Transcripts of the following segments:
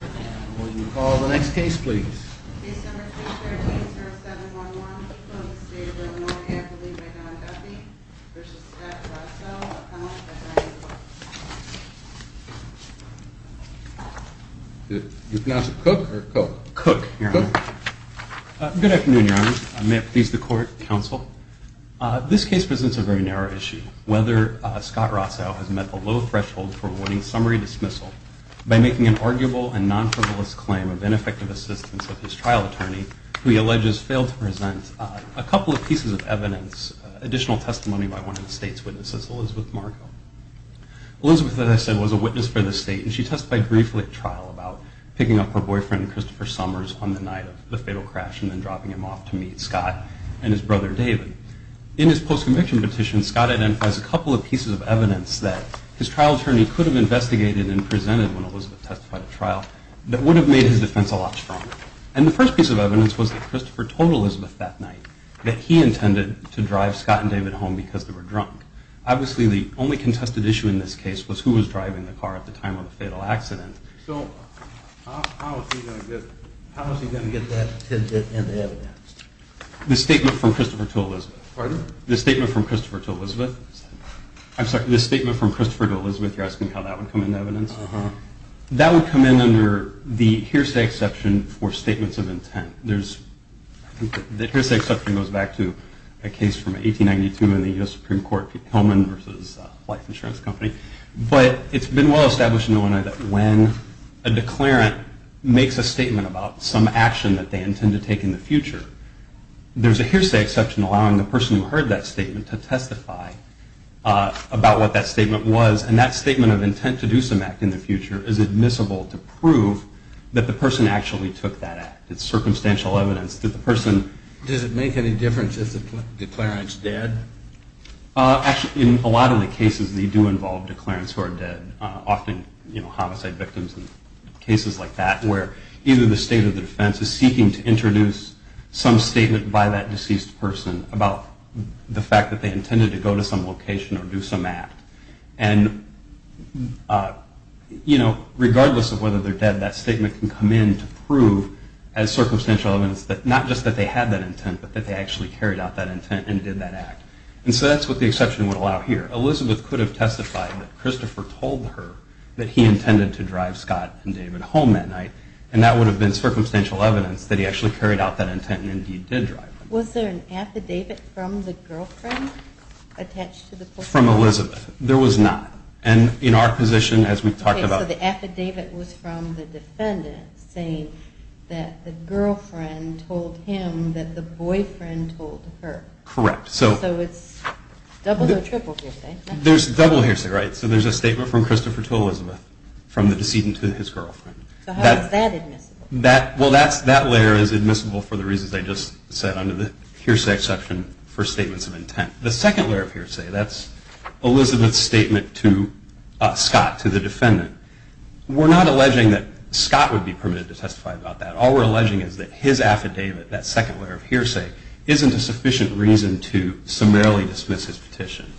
Good afternoon, Your Honor. May it please the Court, Counsel. This case presents a very narrow issue. Whether Scott Rossow has met the low threshold for avoiding summary dismissal by making an arguable and negligent plea to the Supreme Court is a matter for the Court to decide. Scott Rossow has made a non-frivolous claim of ineffective assistance of his trial attorney, who he alleges failed to present a couple of pieces of evidence, additional testimony by one of the State's witnesses, Elizabeth Marco. Elizabeth, as I said, was a witness for the State, and she testified briefly at trial about picking up her boyfriend, Christopher Summers, on the night of the fatal crash and then dropping him off to meet Scott and his brother David. In his post-conviction petition, Scott identifies a couple of pieces of evidence that his trial attorney could have investigated and presented when Elizabeth testified at trial that would have made his defense a lot stronger. And the first piece of evidence was that Christopher told Elizabeth that night that he intended to drive Scott and David home because they were drunk. Obviously, the only contested issue in this case was who was driving the car at the time of the fatal accident. So how is he going to get that in the evidence? The statement from Christopher to Elizabeth? Pardon? The statement from Christopher to Elizabeth? I'm sorry, the statement from Christopher to Elizabeth, you're asking how that would come into evidence? Uh-huh. That would come in under the hearsay exception for statements of intent. The hearsay exception goes back to a case from 1892 in the U.S. Supreme Court, Hillman v. Life Insurance Company. But it's been well established in Illinois that when a declarant makes a statement about some action that they intend to take in the future, there's a hearsay exception allowing the person who heard that statement to testify about what that statement was. And that statement of intent to do some act in the future is admissible to prove that the person actually took that act. It's circumstantial evidence that the person... Does it make any difference if the declarant's dead? Actually, in a lot of the cases, they do involve declarants who are dead, often homicide victims and cases like that, where either the state or the defense is seeking to introduce some statement by that deceased person about the fact that they intended to go to some location or do some act. And, you know, regardless of whether they're dead, that statement can come in to prove, as circumstantial evidence, that not just that they had that intent, but that they actually carried out that intent and did that act. And so that's what the exception would allow here. Elizabeth could have testified that Christopher told her that he intended to drive Scott and David home that night, and that would have been circumstantial evidence that he actually carried out that intent and indeed did drive them. Was there an affidavit from the girlfriend attached to the... From Elizabeth. There was not. And in our position, as we've talked about... The girlfriend told him that the boyfriend told her. Correct. So it's double or triple hearsay. There's double hearsay, right? So there's a statement from Christopher to Elizabeth, from the decedent to his girlfriend. So how is that admissible? Well, that layer is admissible for the reasons I just said under the hearsay exception for statements of intent. The second layer of hearsay, that's Elizabeth's statement to Scott, to the defendant. We're not alleging that Scott would be permitted to testify about that. All we're alleging is that his affidavit, that second layer of hearsay, isn't a sufficient reason to summarily dismiss his petition.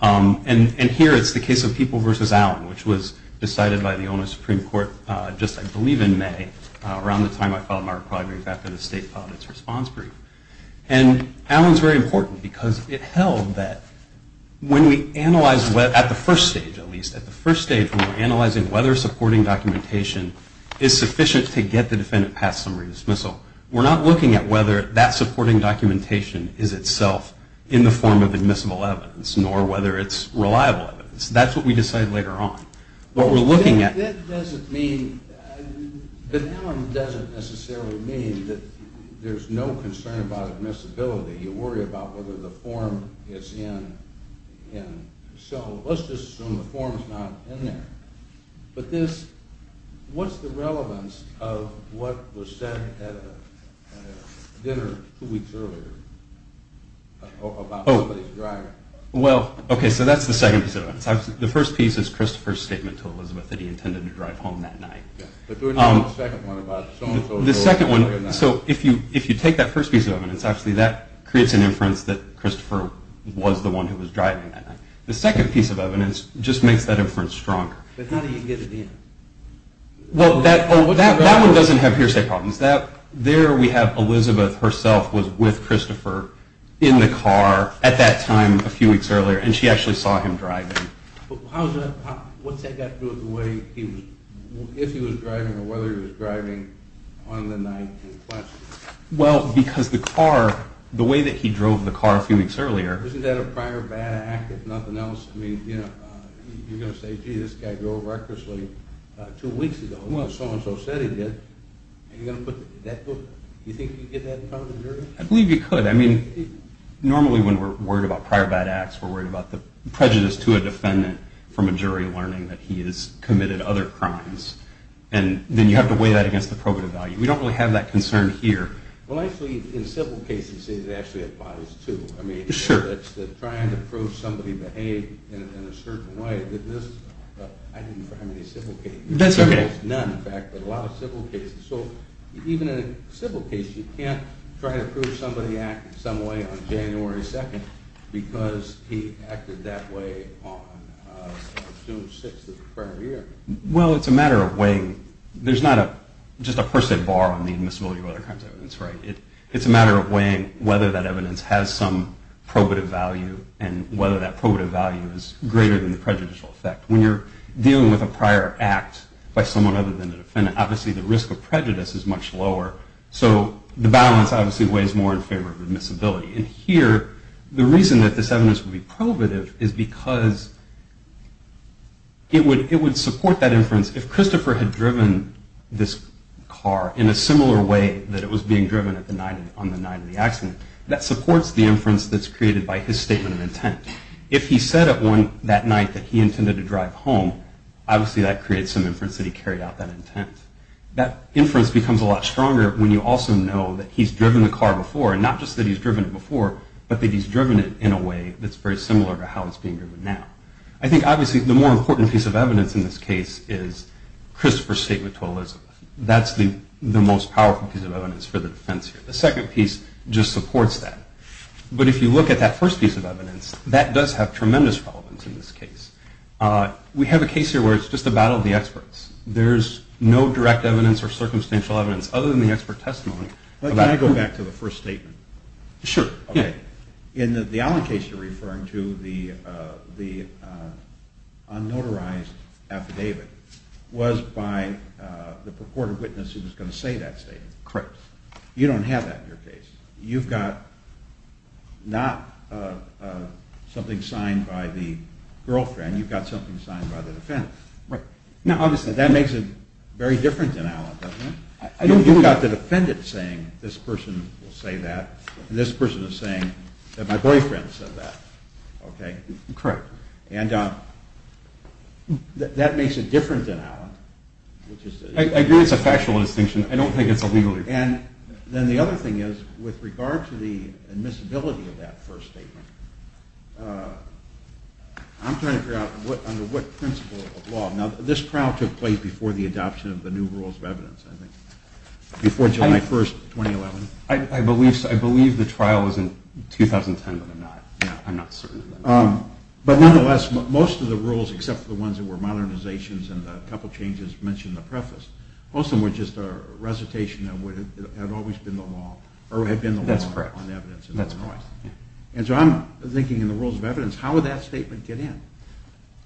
And here it's the case of People v. Allen, which was decided by the Ono Supreme Court just, I believe, in May, around the time I filed my requirements after the state filed its response brief. And Allen's very important because it held that when we analyze... At the first stage, at least. At the first stage, when we're analyzing whether supporting documentation is sufficient to get the defendant past summary dismissal, we're not looking at whether that supporting documentation is itself in the form of admissible evidence nor whether it's reliable evidence. That's what we decide later on. What we're looking at... That doesn't mean... But Allen doesn't necessarily mean that there's no concern about admissibility. You worry about whether the form is in... So let's just assume the form's not in there. But this... What's the relevance of what was said at a dinner two weeks earlier about somebody's driving? Well, okay, so that's the second piece of evidence. The first piece is Christopher's statement to Elizabeth that he intended to drive home that night. But there was no second one about so-and-so drove home that night. The second one... So if you take that first piece of evidence, actually that creates an inference that Christopher was the one who was driving that night. The second piece of evidence just makes that inference stronger. But how do you get it in? Well, that one doesn't have hearsay problems. There we have Elizabeth herself was with Christopher in the car at that time a few weeks earlier, and she actually saw him driving. But how's that... What's that got to do with the way he was... If he was driving or whether he was driving on the night in question? Well, because the car... The way that he drove the car a few weeks earlier... Isn't that a prior bad act, if nothing else? I mean, you're going to say, gee, this guy drove recklessly two weeks ago. Well, so-and-so said he did. Are you going to put that... Do you think you can get that in front of the jury? I believe you could. I mean, normally when we're worried about prior bad acts, we're worried about the prejudice to a defendant from a jury learning that he has committed other crimes. And then you have to weigh that against the probative value. We don't really have that concern here. Well, actually, in civil cases, it actually applies, too. I mean, it's trying to prove somebody behaved in a certain way. I didn't try many civil cases. That's okay. None, in fact, but a lot of civil cases. So even in a civil case, you can't try to prove somebody acted some way on January 2nd because he acted that way on June 6th of the prior year. Well, it's a matter of weighing. There's not just a percent bar on the admissibility of other kinds of evidence. It's a matter of weighing whether that evidence has some probative value and whether that probative value is greater than the prejudicial effect. When you're dealing with a prior act by someone other than the defendant, obviously the risk of prejudice is much lower, so the balance obviously weighs more in favor of admissibility. And here, the reason that this evidence would be probative is because it would support that inference if Christopher had driven this car in a similar way that it was being driven on the night of the accident. That supports the inference that's created by his statement of intent. If he said that night that he intended to drive home, obviously that creates some inference that he carried out that intent. That inference becomes a lot stronger when you also know that he's driven the car before, and not just that he's driven it before, but that he's driven it in a way that's very similar to how it's being driven now. I think obviously the more important piece of evidence in this case is Christopher's statement to Elizabeth. That's the most powerful piece of evidence for the defense here. The second piece just supports that. But if you look at that first piece of evidence, that does have tremendous relevance in this case. We have a case here where it's just a battle of the experts. There's no direct evidence or circumstantial evidence other than the expert testimony. Can I go back to the first statement? Sure. In the Allen case you're referring to, the unnotarized affidavit was by the purported witness who was going to say that statement. Correct. You don't have that in your case. You've got not something signed by the girlfriend. You've got something signed by the defendant. Right. Now, obviously that makes it very different than Allen, doesn't it? You've got the defendant saying, this person will say that and this person is saying that my boyfriend said that. Okay? Correct. And that makes it different than Allen. I agree it's a factual distinction. I don't think it's a legal distinction. And then the other thing is, with regard to the admissibility of that first statement, I'm trying to figure out under what principle of law. Now, this trial took place before the adoption of the new rules of evidence, I think. Before July 1, 2011. I believe the trial was in 2010, but I'm not certain. But nonetheless, most of the rules, except for the ones that were modernizations and a couple changes mentioned in the preface, most of them were just a recitation of what had always been the law or had been the law on evidence in Illinois. That's correct. And so I'm thinking in the rules of evidence, how would that statement get in?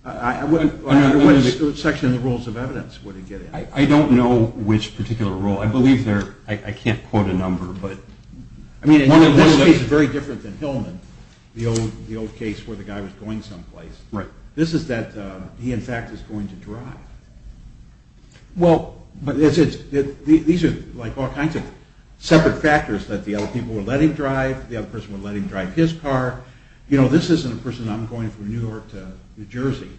Under what section of the rules of evidence would it get in? I don't know which particular rule. I believe they're – I can't quote a number, but – I mean, this case is very different than Hillman, the old case where the guy was going someplace. This is that he, in fact, is going to drive. Well, but these are like all kinds of separate factors, that the other people were letting drive, the other person would let him drive his car. You know, this isn't a person, I'm going from New York to New Jersey.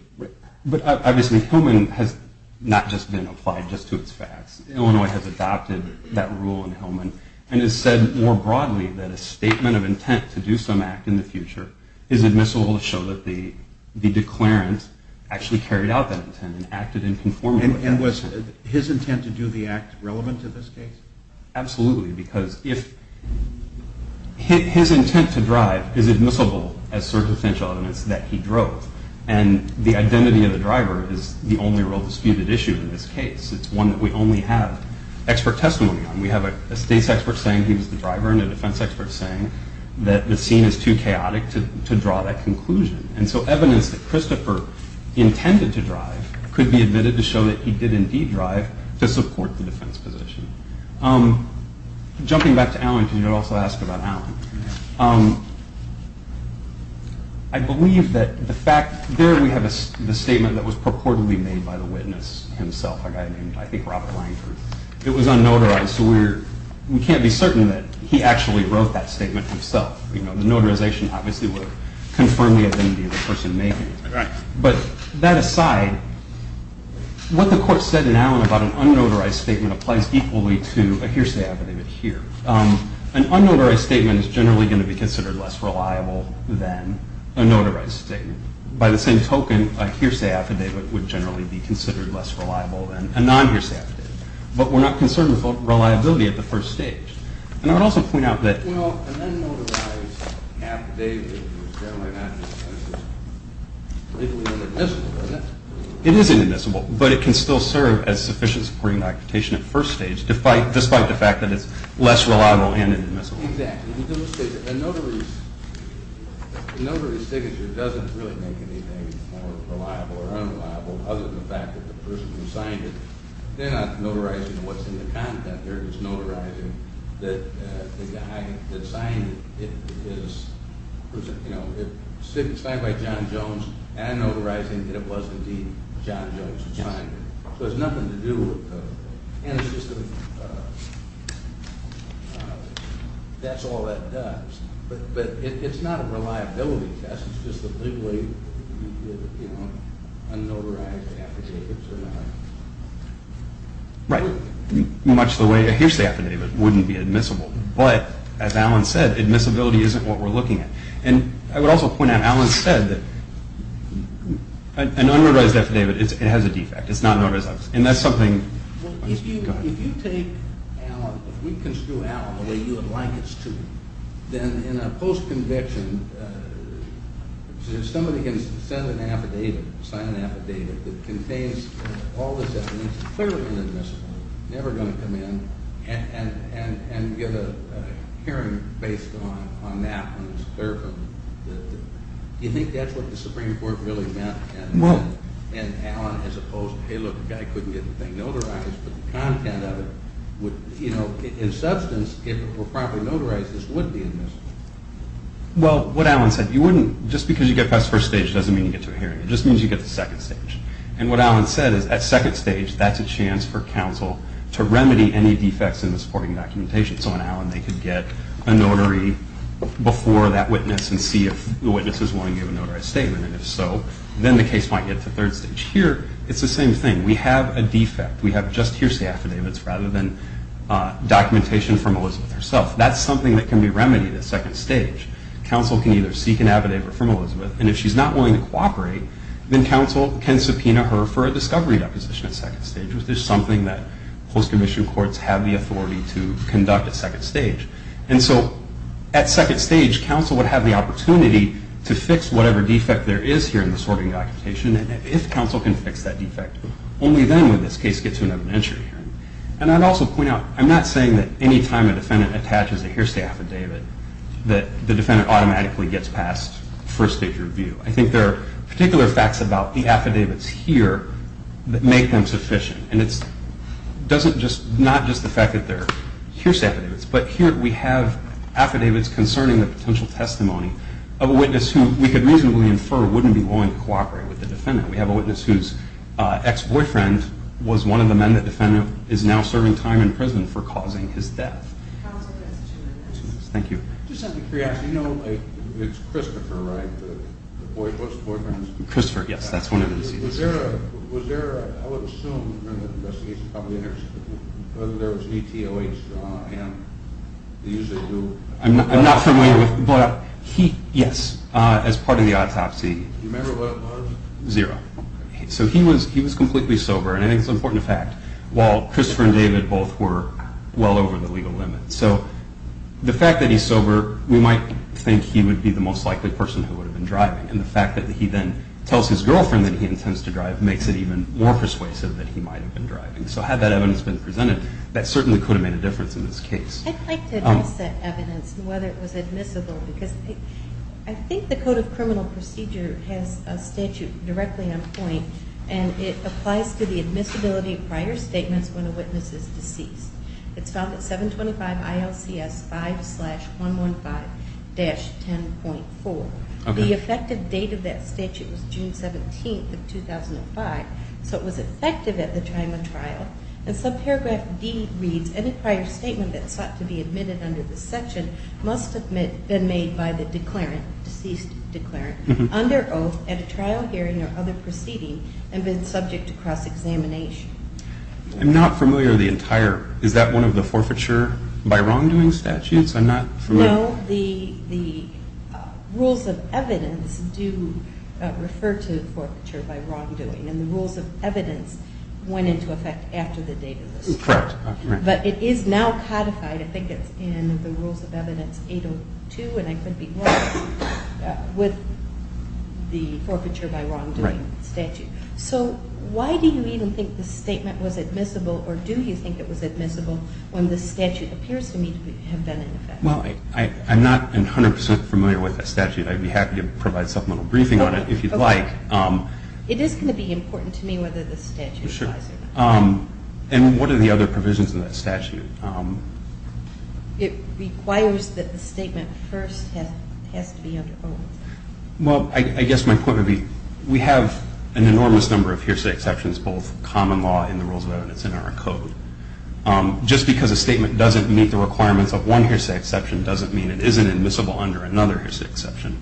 But obviously, Hillman has not just been applied just to its facts. Illinois has adopted that rule in Hillman and has said more broadly that a statement of intent to do some act in the future is admissible to show that the declarant actually carried out that intent and acted in conformity. And was his intent to do the act relevant to this case? Absolutely, because if – his intent to drive is admissible as circumstantial evidence that he drove, and the identity of the driver is the only real disputed issue in this case. It's one that we only have expert testimony on. We have a states expert saying he was the driver and a defense expert saying that the scene is too chaotic to draw that conclusion. And so evidence that Christopher intended to drive could be admitted to show that he did indeed drive to support the defense position. Jumping back to Alan, because you also asked about Alan, I believe that the fact – there we have the statement that was purportedly made by the witness himself, a guy named, I think, Robert Langford. It was unnotarized, so we can't be certain that he actually wrote that statement himself. The notarization obviously would confirm the identity of the person making it. But that aside, what the court said in Alan about an unnotarized statement applies equally to a hearsay affidavit here. An unnotarized statement is generally going to be considered less reliable than a notarized statement. By the same token, a hearsay affidavit would generally be considered less reliable than a non-hearsay affidavit. But we're not concerned with reliability at the first stage. And I would also point out that – Well, an unnotarized affidavit is generally not legally inadmissible, isn't it? It is inadmissible, but it can still serve as sufficient supporting documentation at first stage, despite the fact that it's less reliable and inadmissible. Exactly. The notary's signature doesn't really make anything more reliable or unreliable, other than the fact that the person who signed it, they're not notarizing what's in the content. They're just notarizing that the guy that signed it is, you know, it's signed by John Jones and notarizing that it was indeed John Jones who signed it. So it's nothing to do with – and it's just a – that's all that does. But it's not a reliability test. It's just a legally, you know, unnotarized affidavit. Right. Much the way a hearsay affidavit wouldn't be admissible. But, as Alan said, admissibility isn't what we're looking at. And I would also point out, Alan said that an unnotarized affidavit, it has a defect. It's not an unnotarized affidavit. And that's something – Well, if you take Alan, if we construe Alan the way you would like us to, then in a post-conviction, if somebody can send an affidavit, sign an affidavit, that contains all this evidence, clearly inadmissible, never going to come in, and give a hearing based on that when it's clear from the – do you think that's what the Supreme Court really meant? Well – And Alan, as opposed to, hey, look, the guy couldn't get the thing notarized, but the content of it would – you know, in substance, if it were properly notarized, this would be admissible. Well, what Alan said, you wouldn't – just because you get past the first stage doesn't mean you get to a hearing. It just means you get to the second stage. And what Alan said is, at second stage, that's a chance for counsel to remedy any defects in the supporting documentation. So on Alan, they could get a notary before that witness and see if the witness is willing to give a notarized statement. If so, then the case might get to third stage. Here, it's the same thing. We have a defect. We have just hearsay affidavits rather than documentation from Elizabeth herself. That's something that can be remedied at second stage. Counsel can either seek an affidavit from Elizabeth, and if she's not willing to cooperate, then counsel can subpoena her for a discovery deposition at second stage, which is something that post-commission courts have the authority to conduct at second stage. And so at second stage, counsel would have the opportunity to fix whatever defect there is here in the sorting documentation, and if counsel can fix that defect, only then would this case get to another entry hearing. And I'd also point out, I'm not saying that any time a defendant attaches a hearsay affidavit that the defendant automatically gets past first stage review. I think there are particular facts about the affidavits here that make them sufficient. And it's not just the fact that they're hearsay affidavits, but here we have affidavits concerning the potential testimony of a witness who we could reasonably infer wouldn't be willing to cooperate with the defendant. We have a witness whose ex-boyfriend was one of the men that the defendant is now serving time in prison for causing his death. Counsel can ask two more questions. Thank you. Just out of curiosity, you know it's Christopher, right? The boyfriend? Christopher, yes. That's one of his... Was there a... I would assume during the investigation, whether there was an ETOH, and they usually do... I'm not familiar with... Yes, as part of the autopsy. Do you remember what it was? Zero. So he was completely sober, and I think it's an important fact, while Christopher and David both were well over the legal limit. So the fact that he's sober, we might think he would be the most likely person who would have been driving. And the fact that he then tells his girlfriend that he intends to drive makes it even more persuasive that he might have been driving. So had that evidence been presented, that certainly could have made a difference in this case. I'd like to address that evidence and whether it was admissible, because I think the Code of Criminal Procedure has a statute directly on point, and it applies to the admissibility of prior statements when a witness is deceased. It's found at 725 ILCS 5-115-10.4. The effective date of that statute was June 17th of 2005, so it was effective at the time of trial. And subparagraph D reads, any prior statement that sought to be admitted under this section must have been made by the declarant, deceased declarant, under oath at a trial hearing or other proceeding and been subject to cross-examination. I'm not familiar with the entire. Is that one of the forfeiture by wrongdoing statutes? I'm not familiar. No, the rules of evidence do refer to forfeiture by wrongdoing, and the rules of evidence went into effect after the date of the statute. Correct. But it is now codified. I think it's in the rules of evidence 802, and I could be wrong with the forfeiture by wrongdoing statute. So why do you even think this statement was admissible or do you think it was admissible when this statute appears to me to have been in effect? Well, I'm not 100% familiar with that statute. I'd be happy to provide supplemental briefing on it if you'd like. It is going to be important to me whether this statute applies or not. Sure. And what are the other provisions of that statute? It requires that the statement first has to be under oath. Well, I guess my point would be we have an enormous number of hearsay exceptions, both common law and the rules of evidence in our code. Just because a statement doesn't meet the requirements of one hearsay exception doesn't mean it isn't admissible under another hearsay exception.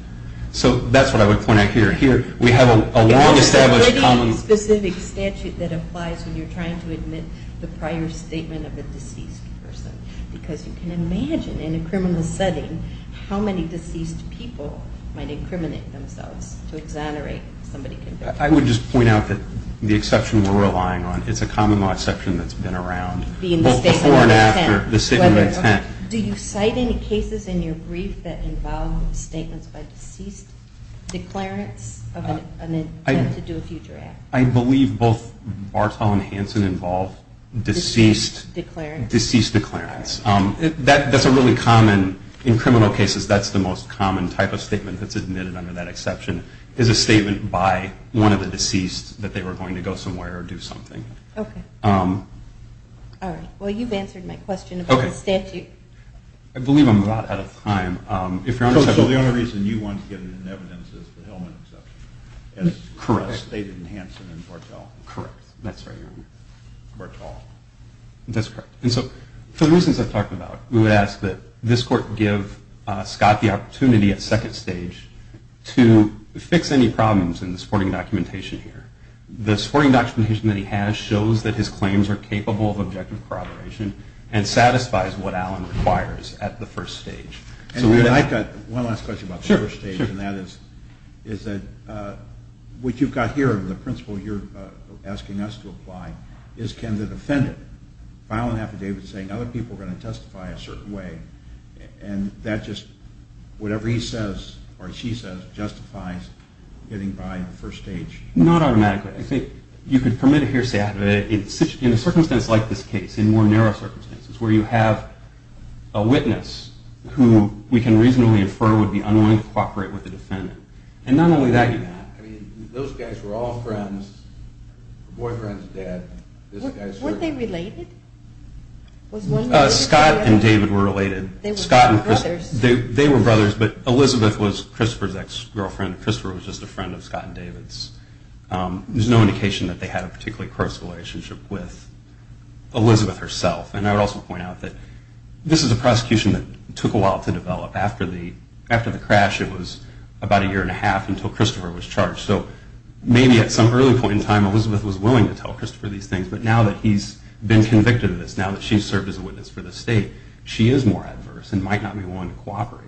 So that's what I would point out here. We have a long-established common law. It's a pretty specific statute that applies when you're trying to admit the prior statement of a deceased person because you can imagine in a criminal setting how many deceased people might incriminate themselves to exonerate somebody convicted. I would just point out that the exception we're relying on, it's a common law exception that's been around both before and after the statement of intent. Do you cite any cases in your brief that involve statements by deceased declarants of an intent to do a future act? I believe both Bartow and Hanson involve deceased declarants. That's a really common, in criminal cases, that's the most common type of statement that's admitted under that exception is a statement by one of the deceased that they were going to go somewhere or do something. Okay. All right. Well, you've answered my question about the statute. I believe I'm a lot out of time. The only reason you want to get it in evidence is the Hillman exception. Correct. As stated in Hanson and Bartow. Correct. That's right. Bartow. That's correct. And so for the reasons I've talked about, we would ask that this Court give Scott the opportunity at second stage to fix any problems in the supporting documentation here. The supporting documentation that he has shows that his claims are capable of objective corroboration and satisfies what Allen requires at the first stage. I've got one last question about the first stage, and that is that what you've got here, the principle you're asking us to apply, is can the defendant file an affidavit saying other people are going to testify a certain way and that just whatever he says or she says justifies getting by the first stage? Not automatically. I think you could permit a hearsay affidavit in a circumstance like this case, in more narrow circumstances, where you have a witness who we can reasonably infer would be unwilling to cooperate with the defendant. And not only that, you can't. I mean, those guys were all friends. Her boyfriend's a dad. Weren't they related? Scott and David were related. They were brothers. They were brothers, but Elizabeth was Christopher's ex-girlfriend. Christopher was just a friend of Scott and David's. There's no indication that they had a particularly close relationship with Elizabeth herself. And I would also point out that this is a prosecution that took a while to develop. After the crash, it was about a year and a half until Christopher was charged. So maybe at some early point in time, Elizabeth was willing to tell Christopher these things, but now that he's been convicted of this, now that she's served as a witness for the state, she is more adverse and might not be willing to cooperate.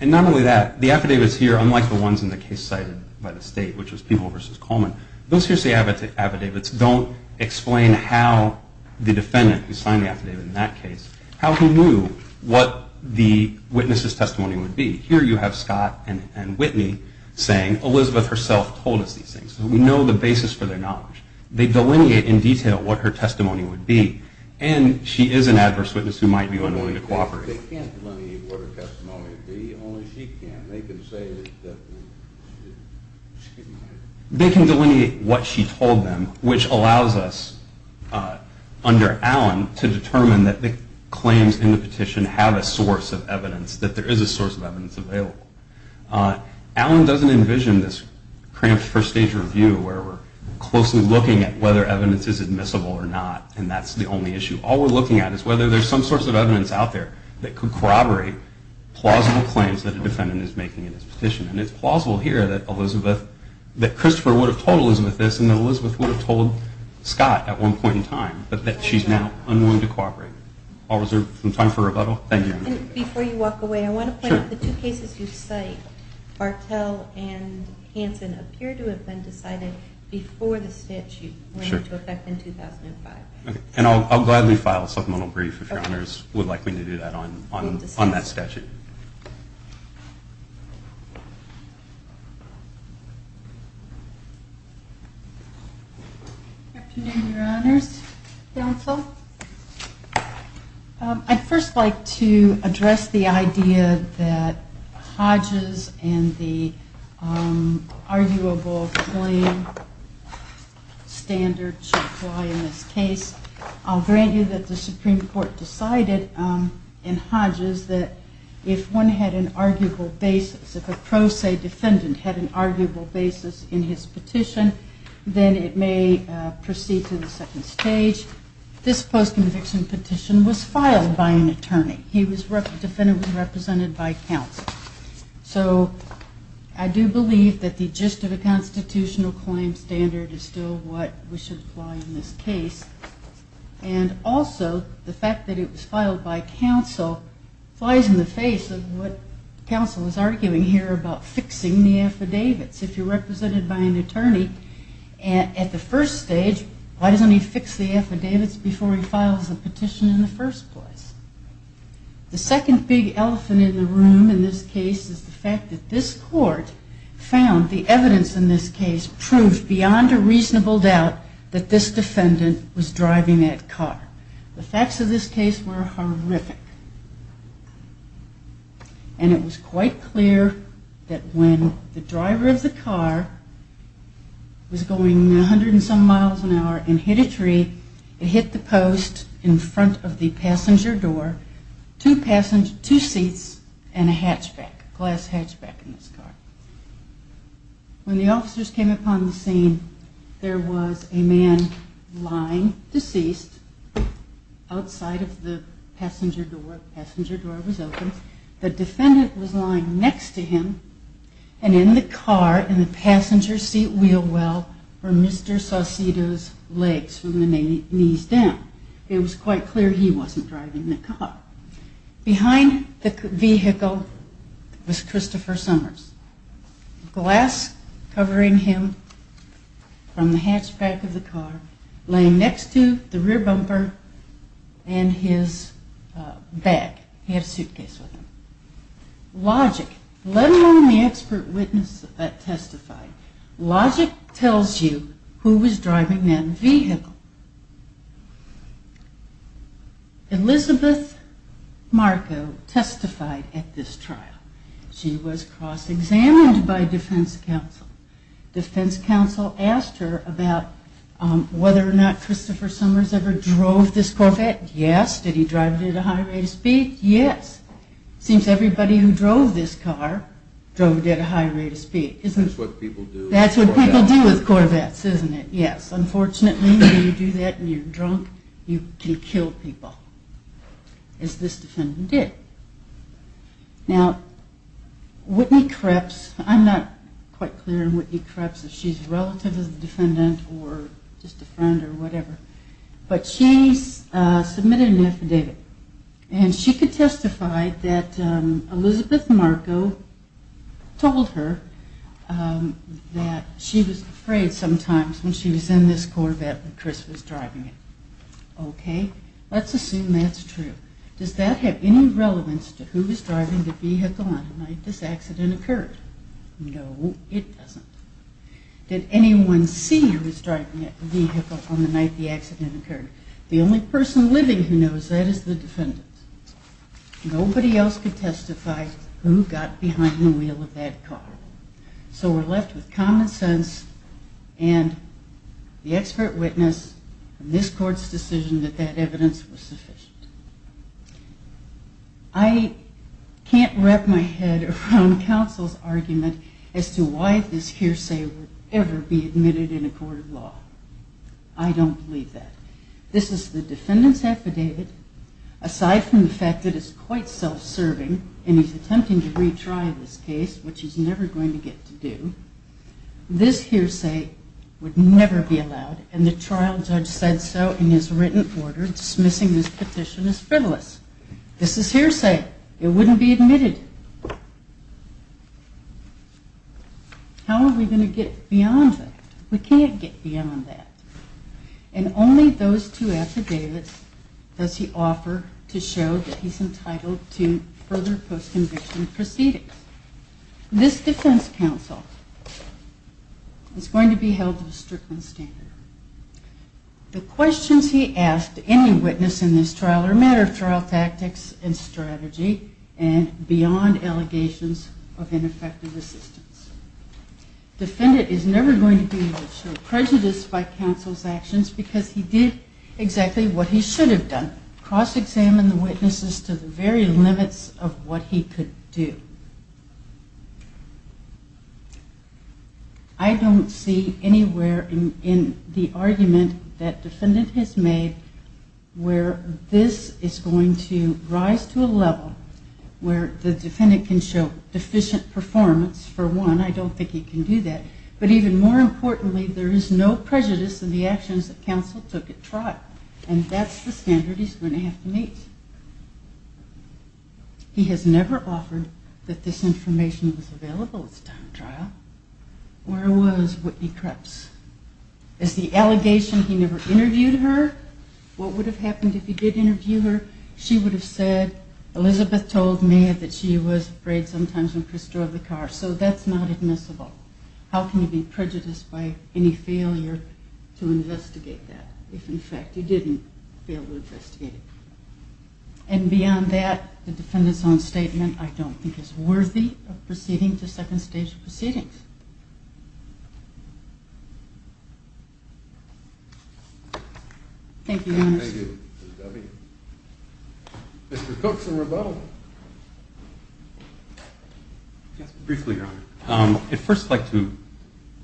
And not only that, the affidavits here, unlike the ones in the case cited by the state, which was Peeble v. Coleman, those hearsay affidavits don't explain how the defendant, who signed the affidavit in that case, how he knew what the witness's testimony would be. Here you have Scott and Whitney saying, Elizabeth herself told us these things. We know the basis for their knowledge. They delineate in detail what her testimony would be, and she is an adverse witness who might be unwilling to cooperate. They can't delineate what her testimony would be. Only she can. They can say that she didn't. They can delineate what she told them, which allows us, under Allen, to determine that the claims in the petition have a source of evidence, that there is a source of evidence available. Allen doesn't envision this cramped first stage review where we're closely looking at whether evidence is admissible or not, and that's the only issue. All we're looking at is whether there's some sort of evidence out there that could corroborate plausible claims that a defendant is making in his petition. And it's plausible here that Christopher would have told Elizabeth this and that Elizabeth would have told Scott at one point in time, but that she's now unwilling to cooperate. I'll reserve some time for rebuttal. Thank you. Before you walk away, I want to point out the two cases you cite, Bartell and Hanson, appear to have been decided before the statute went into effect in 2005. And I'll gladly file a supplemental brief if Your Honors would like me to do that on that statute. Afternoon, Your Honors. Counsel. I'd first like to address the idea that Hodges and the arguable claim standard should apply in this case. I'll grant you that the Supreme Court decided in Hodges that if one had an arguable basis, if a pro se defendant had an arguable basis in his petition, then it may proceed to the second stage. This post-conviction petition was filed by an attorney. He was definitively represented by counsel. So I do believe that the gist of a constitutional claim standard is still what we should apply in this case. And also the fact that it was filed by counsel flies in the face of what counsel is arguing here about fixing the affidavits. If you're represented by an attorney at the first stage, why doesn't he fix the affidavits before he files the petition in the first place? The second big elephant in the room in this case is the fact that this court found the evidence in this case proved beyond a reasonable doubt that this defendant was driving that car. The facts of this case were horrific. And it was quite clear that when the driver of the car was going 100 and some miles an hour and hit a tree, it hit the post in front of the passenger door, two seats and a hatchback, a glass hatchback in this car. When the officers came upon the scene, there was a man lying deceased outside of the passenger door. The passenger door was open. The defendant was lying next to him. And in the car, in the passenger seat wheel well, were Mr. Saucedo's legs from the knees down. It was quite clear he wasn't driving the car. Behind the vehicle was Christopher Summers, glass covering him from the hatchback of the car, laying next to the rear bumper and his bag. He had a suitcase with him. Logic, let alone the expert witness that testified, logic tells you who was driving that vehicle. Elizabeth Marco testified at this trial. She was cross-examined by defense counsel. Defense counsel asked her about whether or not Christopher Summers ever drove this Corvette. Yes. Did he drive it at a high rate of speed? Yes. Seems everybody who drove this car drove it at a high rate of speed. That's what people do. That's what people do with Corvettes, isn't it? Yes. Unfortunately, when you do that and you're drunk, you can kill people, as this defendant did. Now, Whitney Kreps, I'm not quite clear on Whitney Kreps, if she's a relative of the defendant or just a friend or whatever, but she submitted an affidavit. And she testified that Elizabeth Marco told her that she was afraid sometimes when she was in this Corvette that Chris was driving it. Okay. Let's assume that's true. Does that have any relevance to who was driving the vehicle on the night this accident occurred? No, it doesn't. Did anyone see who was driving the vehicle on the night the accident occurred? The only person living who knows that is the defendant. Nobody else could testify who got behind the wheel of that car. So we're left with common sense and the expert witness in this court's decision that that evidence was sufficient. I can't wrap my head around counsel's argument as to why this hearsay would ever be admitted in a court of law. I don't believe that. This is the defendant's affidavit. Aside from the fact that it's quite self-serving and he's attempting to retry this case, which he's never going to get to do, this hearsay would never be allowed and the trial judge said so in his written order dismissing this petition as frivolous. This is hearsay. It wouldn't be admitted. How are we going to get beyond that? We can't get beyond that. And only those two affidavits does he offer to show that he's entitled to further post-conviction proceedings. This defense counsel is going to be held to the Strickland standard. The questions he asked any witness in this trial are a matter of trial tactics and strategy and beyond allegations of ineffective assistance. Defendant is never going to be able to show prejudice by counsel's actions because he did exactly what he should have done, cross-examined the witnesses to the very limits of what he could do. I don't see anywhere in the argument that defendant has made where this is going to rise to a level where the defendant can show deficient performance. For one, I don't think he can do that. But even more importantly, there is no prejudice in the actions that counsel took at trial. And that's the standard he's going to have to meet. He has never offered that this information was available at this time of trial. Where was Whitney Kreps? Is the allegation he never interviewed her? What would have happened if he did interview her? She would have said, Elizabeth told me that she was afraid sometimes when Chris drove the car. So that's not admissible. How can you be prejudiced by any failure to investigate that if, in fact, you didn't fail to investigate it? And beyond that, the defendant's own statement I don't think is worthy of proceeding to second stage proceedings. Thank you. Mr. Cook for rebuttal. Briefly, Your Honor. I'd first like to,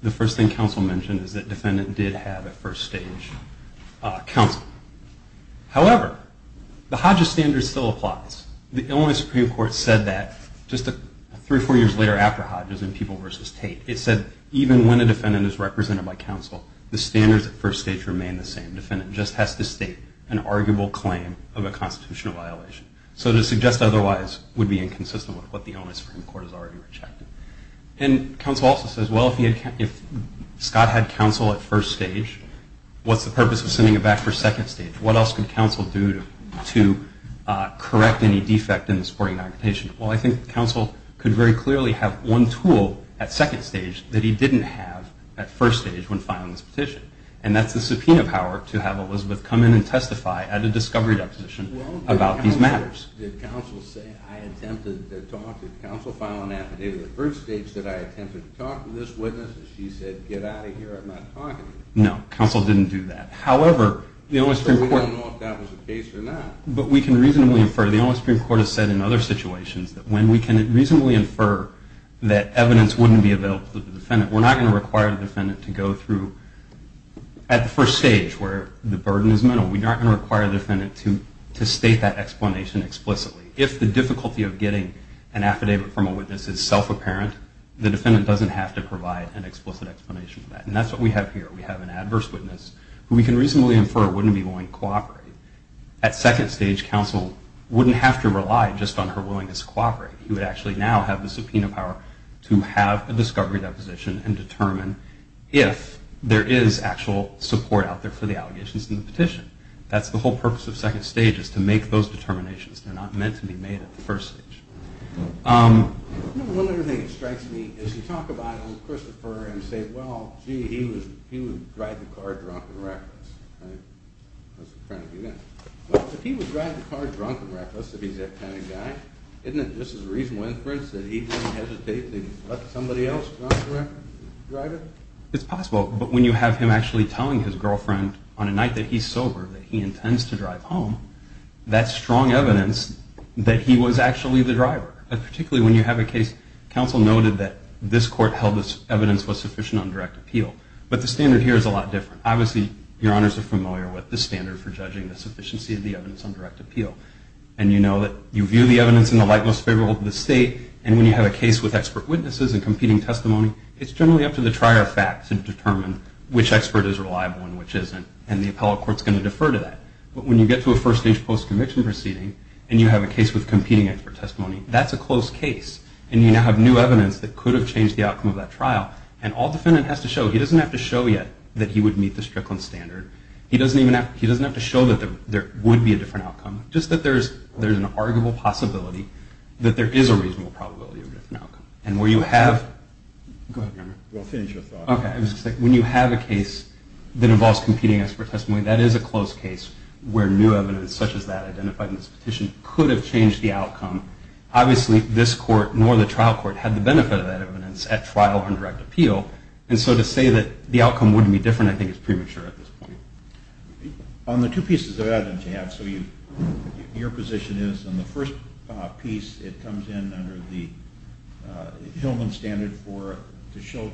the first thing counsel mentioned is that defendant did have a first stage counsel. However, the Hodges standard still applies. The Illinois Supreme Court said that just three or four years later after Hodges in People v. Tate. It said even when a defendant is represented by counsel, the standards at first stage remain the same. Defendant just has to state an arguable claim of a constitutional violation. So to suggest otherwise would be inconsistent with what the Illinois Supreme Court has already rejected. And counsel also says, well, if Scott had counsel at first stage, what's the purpose of sending it back for second stage? What else could counsel do to correct any defect in the supporting documentation? Well, I think counsel could very clearly have one tool at second stage that he didn't have at first stage when filing this petition. And that's the subpoena power to have Elizabeth come in and testify at a discovery deposition about these matters. Did counsel say, I attempted to talk to counsel, file an affidavit at first stage? Did I attempt to talk to this witness? She said, get out of here. I'm not talking to you. No, counsel didn't do that. However, the Illinois Supreme Court. We don't know if that was the case or not. But we can reasonably infer, the Illinois Supreme Court has said in other situations, that when we can reasonably infer that evidence wouldn't be available to the defendant, we're not going to require the defendant to go through at the first stage where the burden is minimal. We're not going to require the defendant to state that explanation explicitly. If the difficulty of getting an affidavit from a witness is self-apparent, the defendant doesn't have to provide an explicit explanation for that. And that's what we have here. We have an adverse witness, who we can reasonably infer wouldn't be willing to cooperate. At second stage, counsel wouldn't have to rely just on her willingness to cooperate. He would actually now have the subpoena power to have a discovery deposition and determine if there is actual support out there for the allegations in the petition. That's the whole purpose of second stage, is to make those determinations. They're not meant to be made at the first stage. One other thing that strikes me is you talk about Christopher and say, well, gee, he would drive the car drunk and reckless, right? If he would drive the car drunk and reckless, if he's that kind of guy, isn't it just as a reasonable inference that he wouldn't hesitate to let somebody else drive it? It's possible. But when you have him actually telling his girlfriend on a night that he's sober that he intends to drive home, that's strong evidence that he was actually the driver. Particularly when you have a case, counsel noted that this court held this evidence was sufficient on direct appeal. But the standard here is a lot different. Obviously, your honors are familiar with the standard for judging the sufficiency of the evidence on direct appeal. And you know that you view the evidence in the light most favorable to the state, and when you have a case with expert witnesses and competing testimony, it's generally up to the trier of facts to determine which expert is reliable and which isn't. And the appellate court is going to defer to that. But when you get to a first-stage post-conviction proceeding and you have a case with competing expert testimony, that's a close case. And you now have new evidence that could have changed the outcome of that trial. And all defendant has to show, he doesn't have to show yet that he would meet the Strickland standard. He doesn't even have to show that there would be a different outcome, just that there's an arguable possibility that there is a reasonable probability of a different outcome. And where you have, go ahead, remember. We'll finish your thought. Okay. When you have a case that involves competing expert testimony, that is a close case where new evidence such as that identified in this petition could have changed the outcome. Obviously, this court, nor the trial court, had the benefit of that evidence at trial on direct appeal. And so to say that the outcome wouldn't be different, I think, is premature at this point. On the two pieces of evidence you have, so your position is in the first piece, it comes in under the Hillman standard to show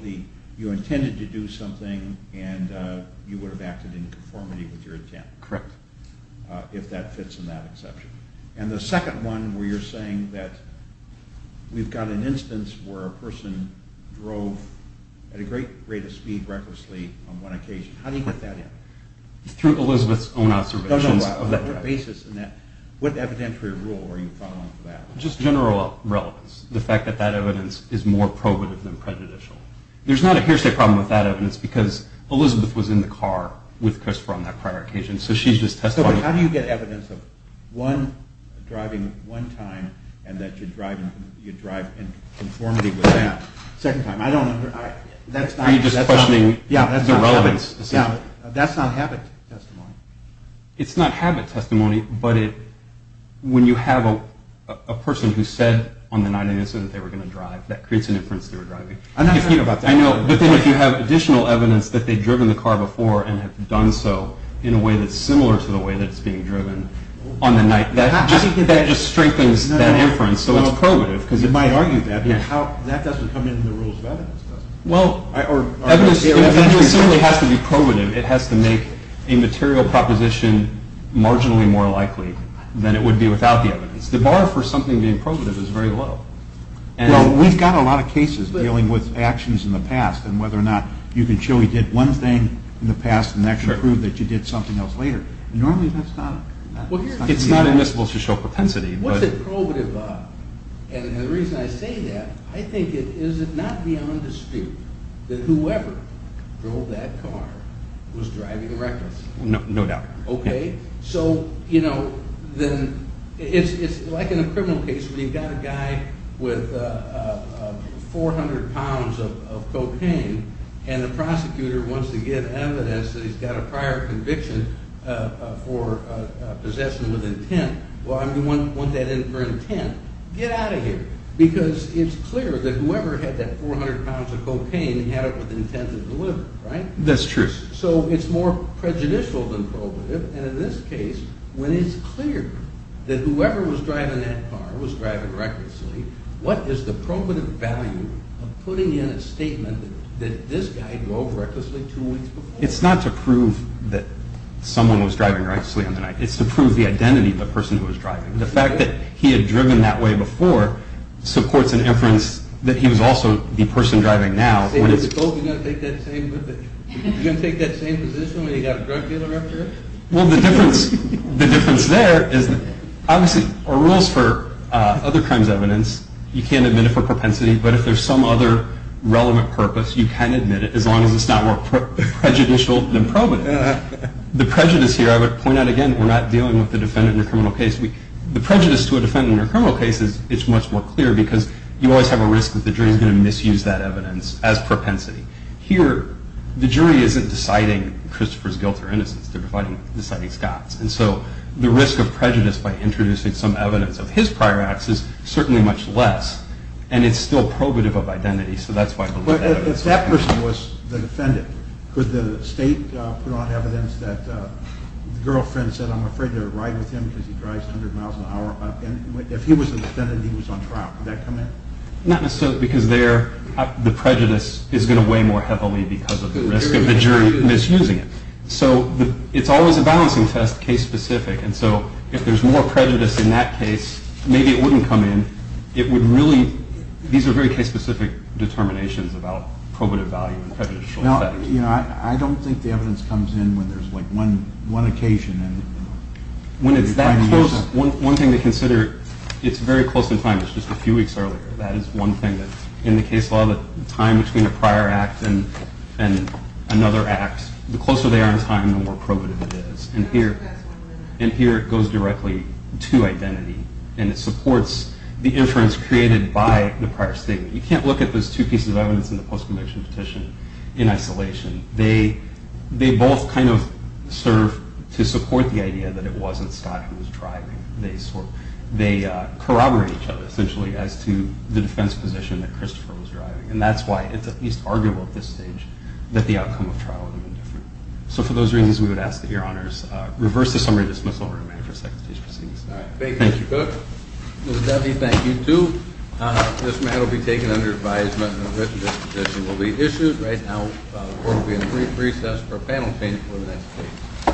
you intended to do something and you would have acted in conformity with your intent. Correct. If that fits in that exception. And the second one where you're saying that we've got an instance where a person drove at a great rate of speed, recklessly, on one occasion. How do you get that in? Through Elizabeth's own observations of that trial. No, no. What basis in that, what evidentiary rule are you following for that? Just general relevance. The fact that that evidence is more probative than prejudicial. There's not a hearsay problem with that evidence because Elizabeth was in the car with Christopher on that prior occasion, so she's just testifying. How do you get evidence of one driving one time and that you drive in conformity with that second time? I don't understand. Are you just questioning the relevance? Yeah, that's not habit testimony. It's not habit testimony, but when you have a person who said on the night of the incident they were going to drive, that creates an inference they were driving. I know, but then if you have additional evidence that they've driven the car before and have done so in a way that's similar to the way that it's being driven on the night, that just strengthens that inference, so it's probative. You might argue that, but that doesn't come into the rules of evidence, does it? Evidence simply has to be probative. It has to make a material proposition marginally more likely than it would be without the evidence. The bar for something being probative is very low. We've got a lot of cases dealing with actions in the past and whether or not you can show you did one thing in the past and actually prove that you did something else later. Normally, that's not. It's not invisible to show propensity. What's it probative of? And the reason I say that, I think it is not beyond dispute that whoever drove that car was driving recklessly. No doubt. Okay? So, you know, it's like in a criminal case where you've got a guy with 400 pounds of cocaine and the prosecutor wants to get evidence that he's got a prior conviction for possession with intent. Well, I mean, he wants that in for intent. Get out of here. Because it's clear that whoever had that 400 pounds of cocaine had it with intent to deliver, right? That's true. So it's more prejudicial than probative. And in this case, when it's clear that whoever was driving that car was driving recklessly, what is the probative value of putting in a statement that this guy drove recklessly two weeks before? It's not to prove that someone was driving recklessly on the night. It's to prove the identity of the person who was driving. The fact that he had driven that way before supports an inference that he was also the person driving now. So you're going to take that same position when you've got a drug dealer after it? Well, the difference there is that obviously there are rules for other crimes evidence. You can't admit it for propensity, but if there's some other relevant purpose, you can admit it as long as it's not more prejudicial than probative. The prejudice here, I would point out again, we're not dealing with the defendant in a criminal case. The prejudice to a defendant in a criminal case is much more clear because you always have a risk that the jury is going to misuse that evidence as propensity. Here, the jury isn't deciding Christopher's guilt or innocence. They're deciding Scott's. And so the risk of prejudice by introducing some evidence of his prior acts is certainly much less, and it's still probative of identity. But if that person was the defendant, could the state put on evidence that the girlfriend said, I'm afraid to ride with him because he drives 100 miles an hour? If he was the defendant and he was on trial, would that come in? Not necessarily, because there the prejudice is going to weigh more heavily because of the risk of the jury misusing it. So it's always a balancing test, case-specific, and so if there's more prejudice in that case, maybe it wouldn't come in. These are very case-specific determinations about probative value and prejudicial effect. I don't think the evidence comes in when there's one occasion. When it's that close, one thing to consider, it's very close in time. It's just a few weeks earlier. That is one thing that's in the case law, that the time between a prior act and another act, the closer they are in time, the more probative it is. And here it goes directly to identity, and it supports the inference created by the prior statement. You can't look at those two pieces of evidence in the post-conviction petition in isolation. They both kind of serve to support the idea that it wasn't Scott who was driving. They corroborate each other, essentially, as to the defense position that Christopher was driving, and that's why it's at least arguable at this stage that the outcome of trial would have been different. So for those reasons, we would ask that Your Honors reverse the summary dismissal order and wait for a second to finish proceedings. All right. Thank you, Mr. Cook. Mr. Duffy, thank you, too. This matter will be taken under advisement and a written disposition will be issued. Right now, the Court will be in a brief recess for a panel change before the next meeting.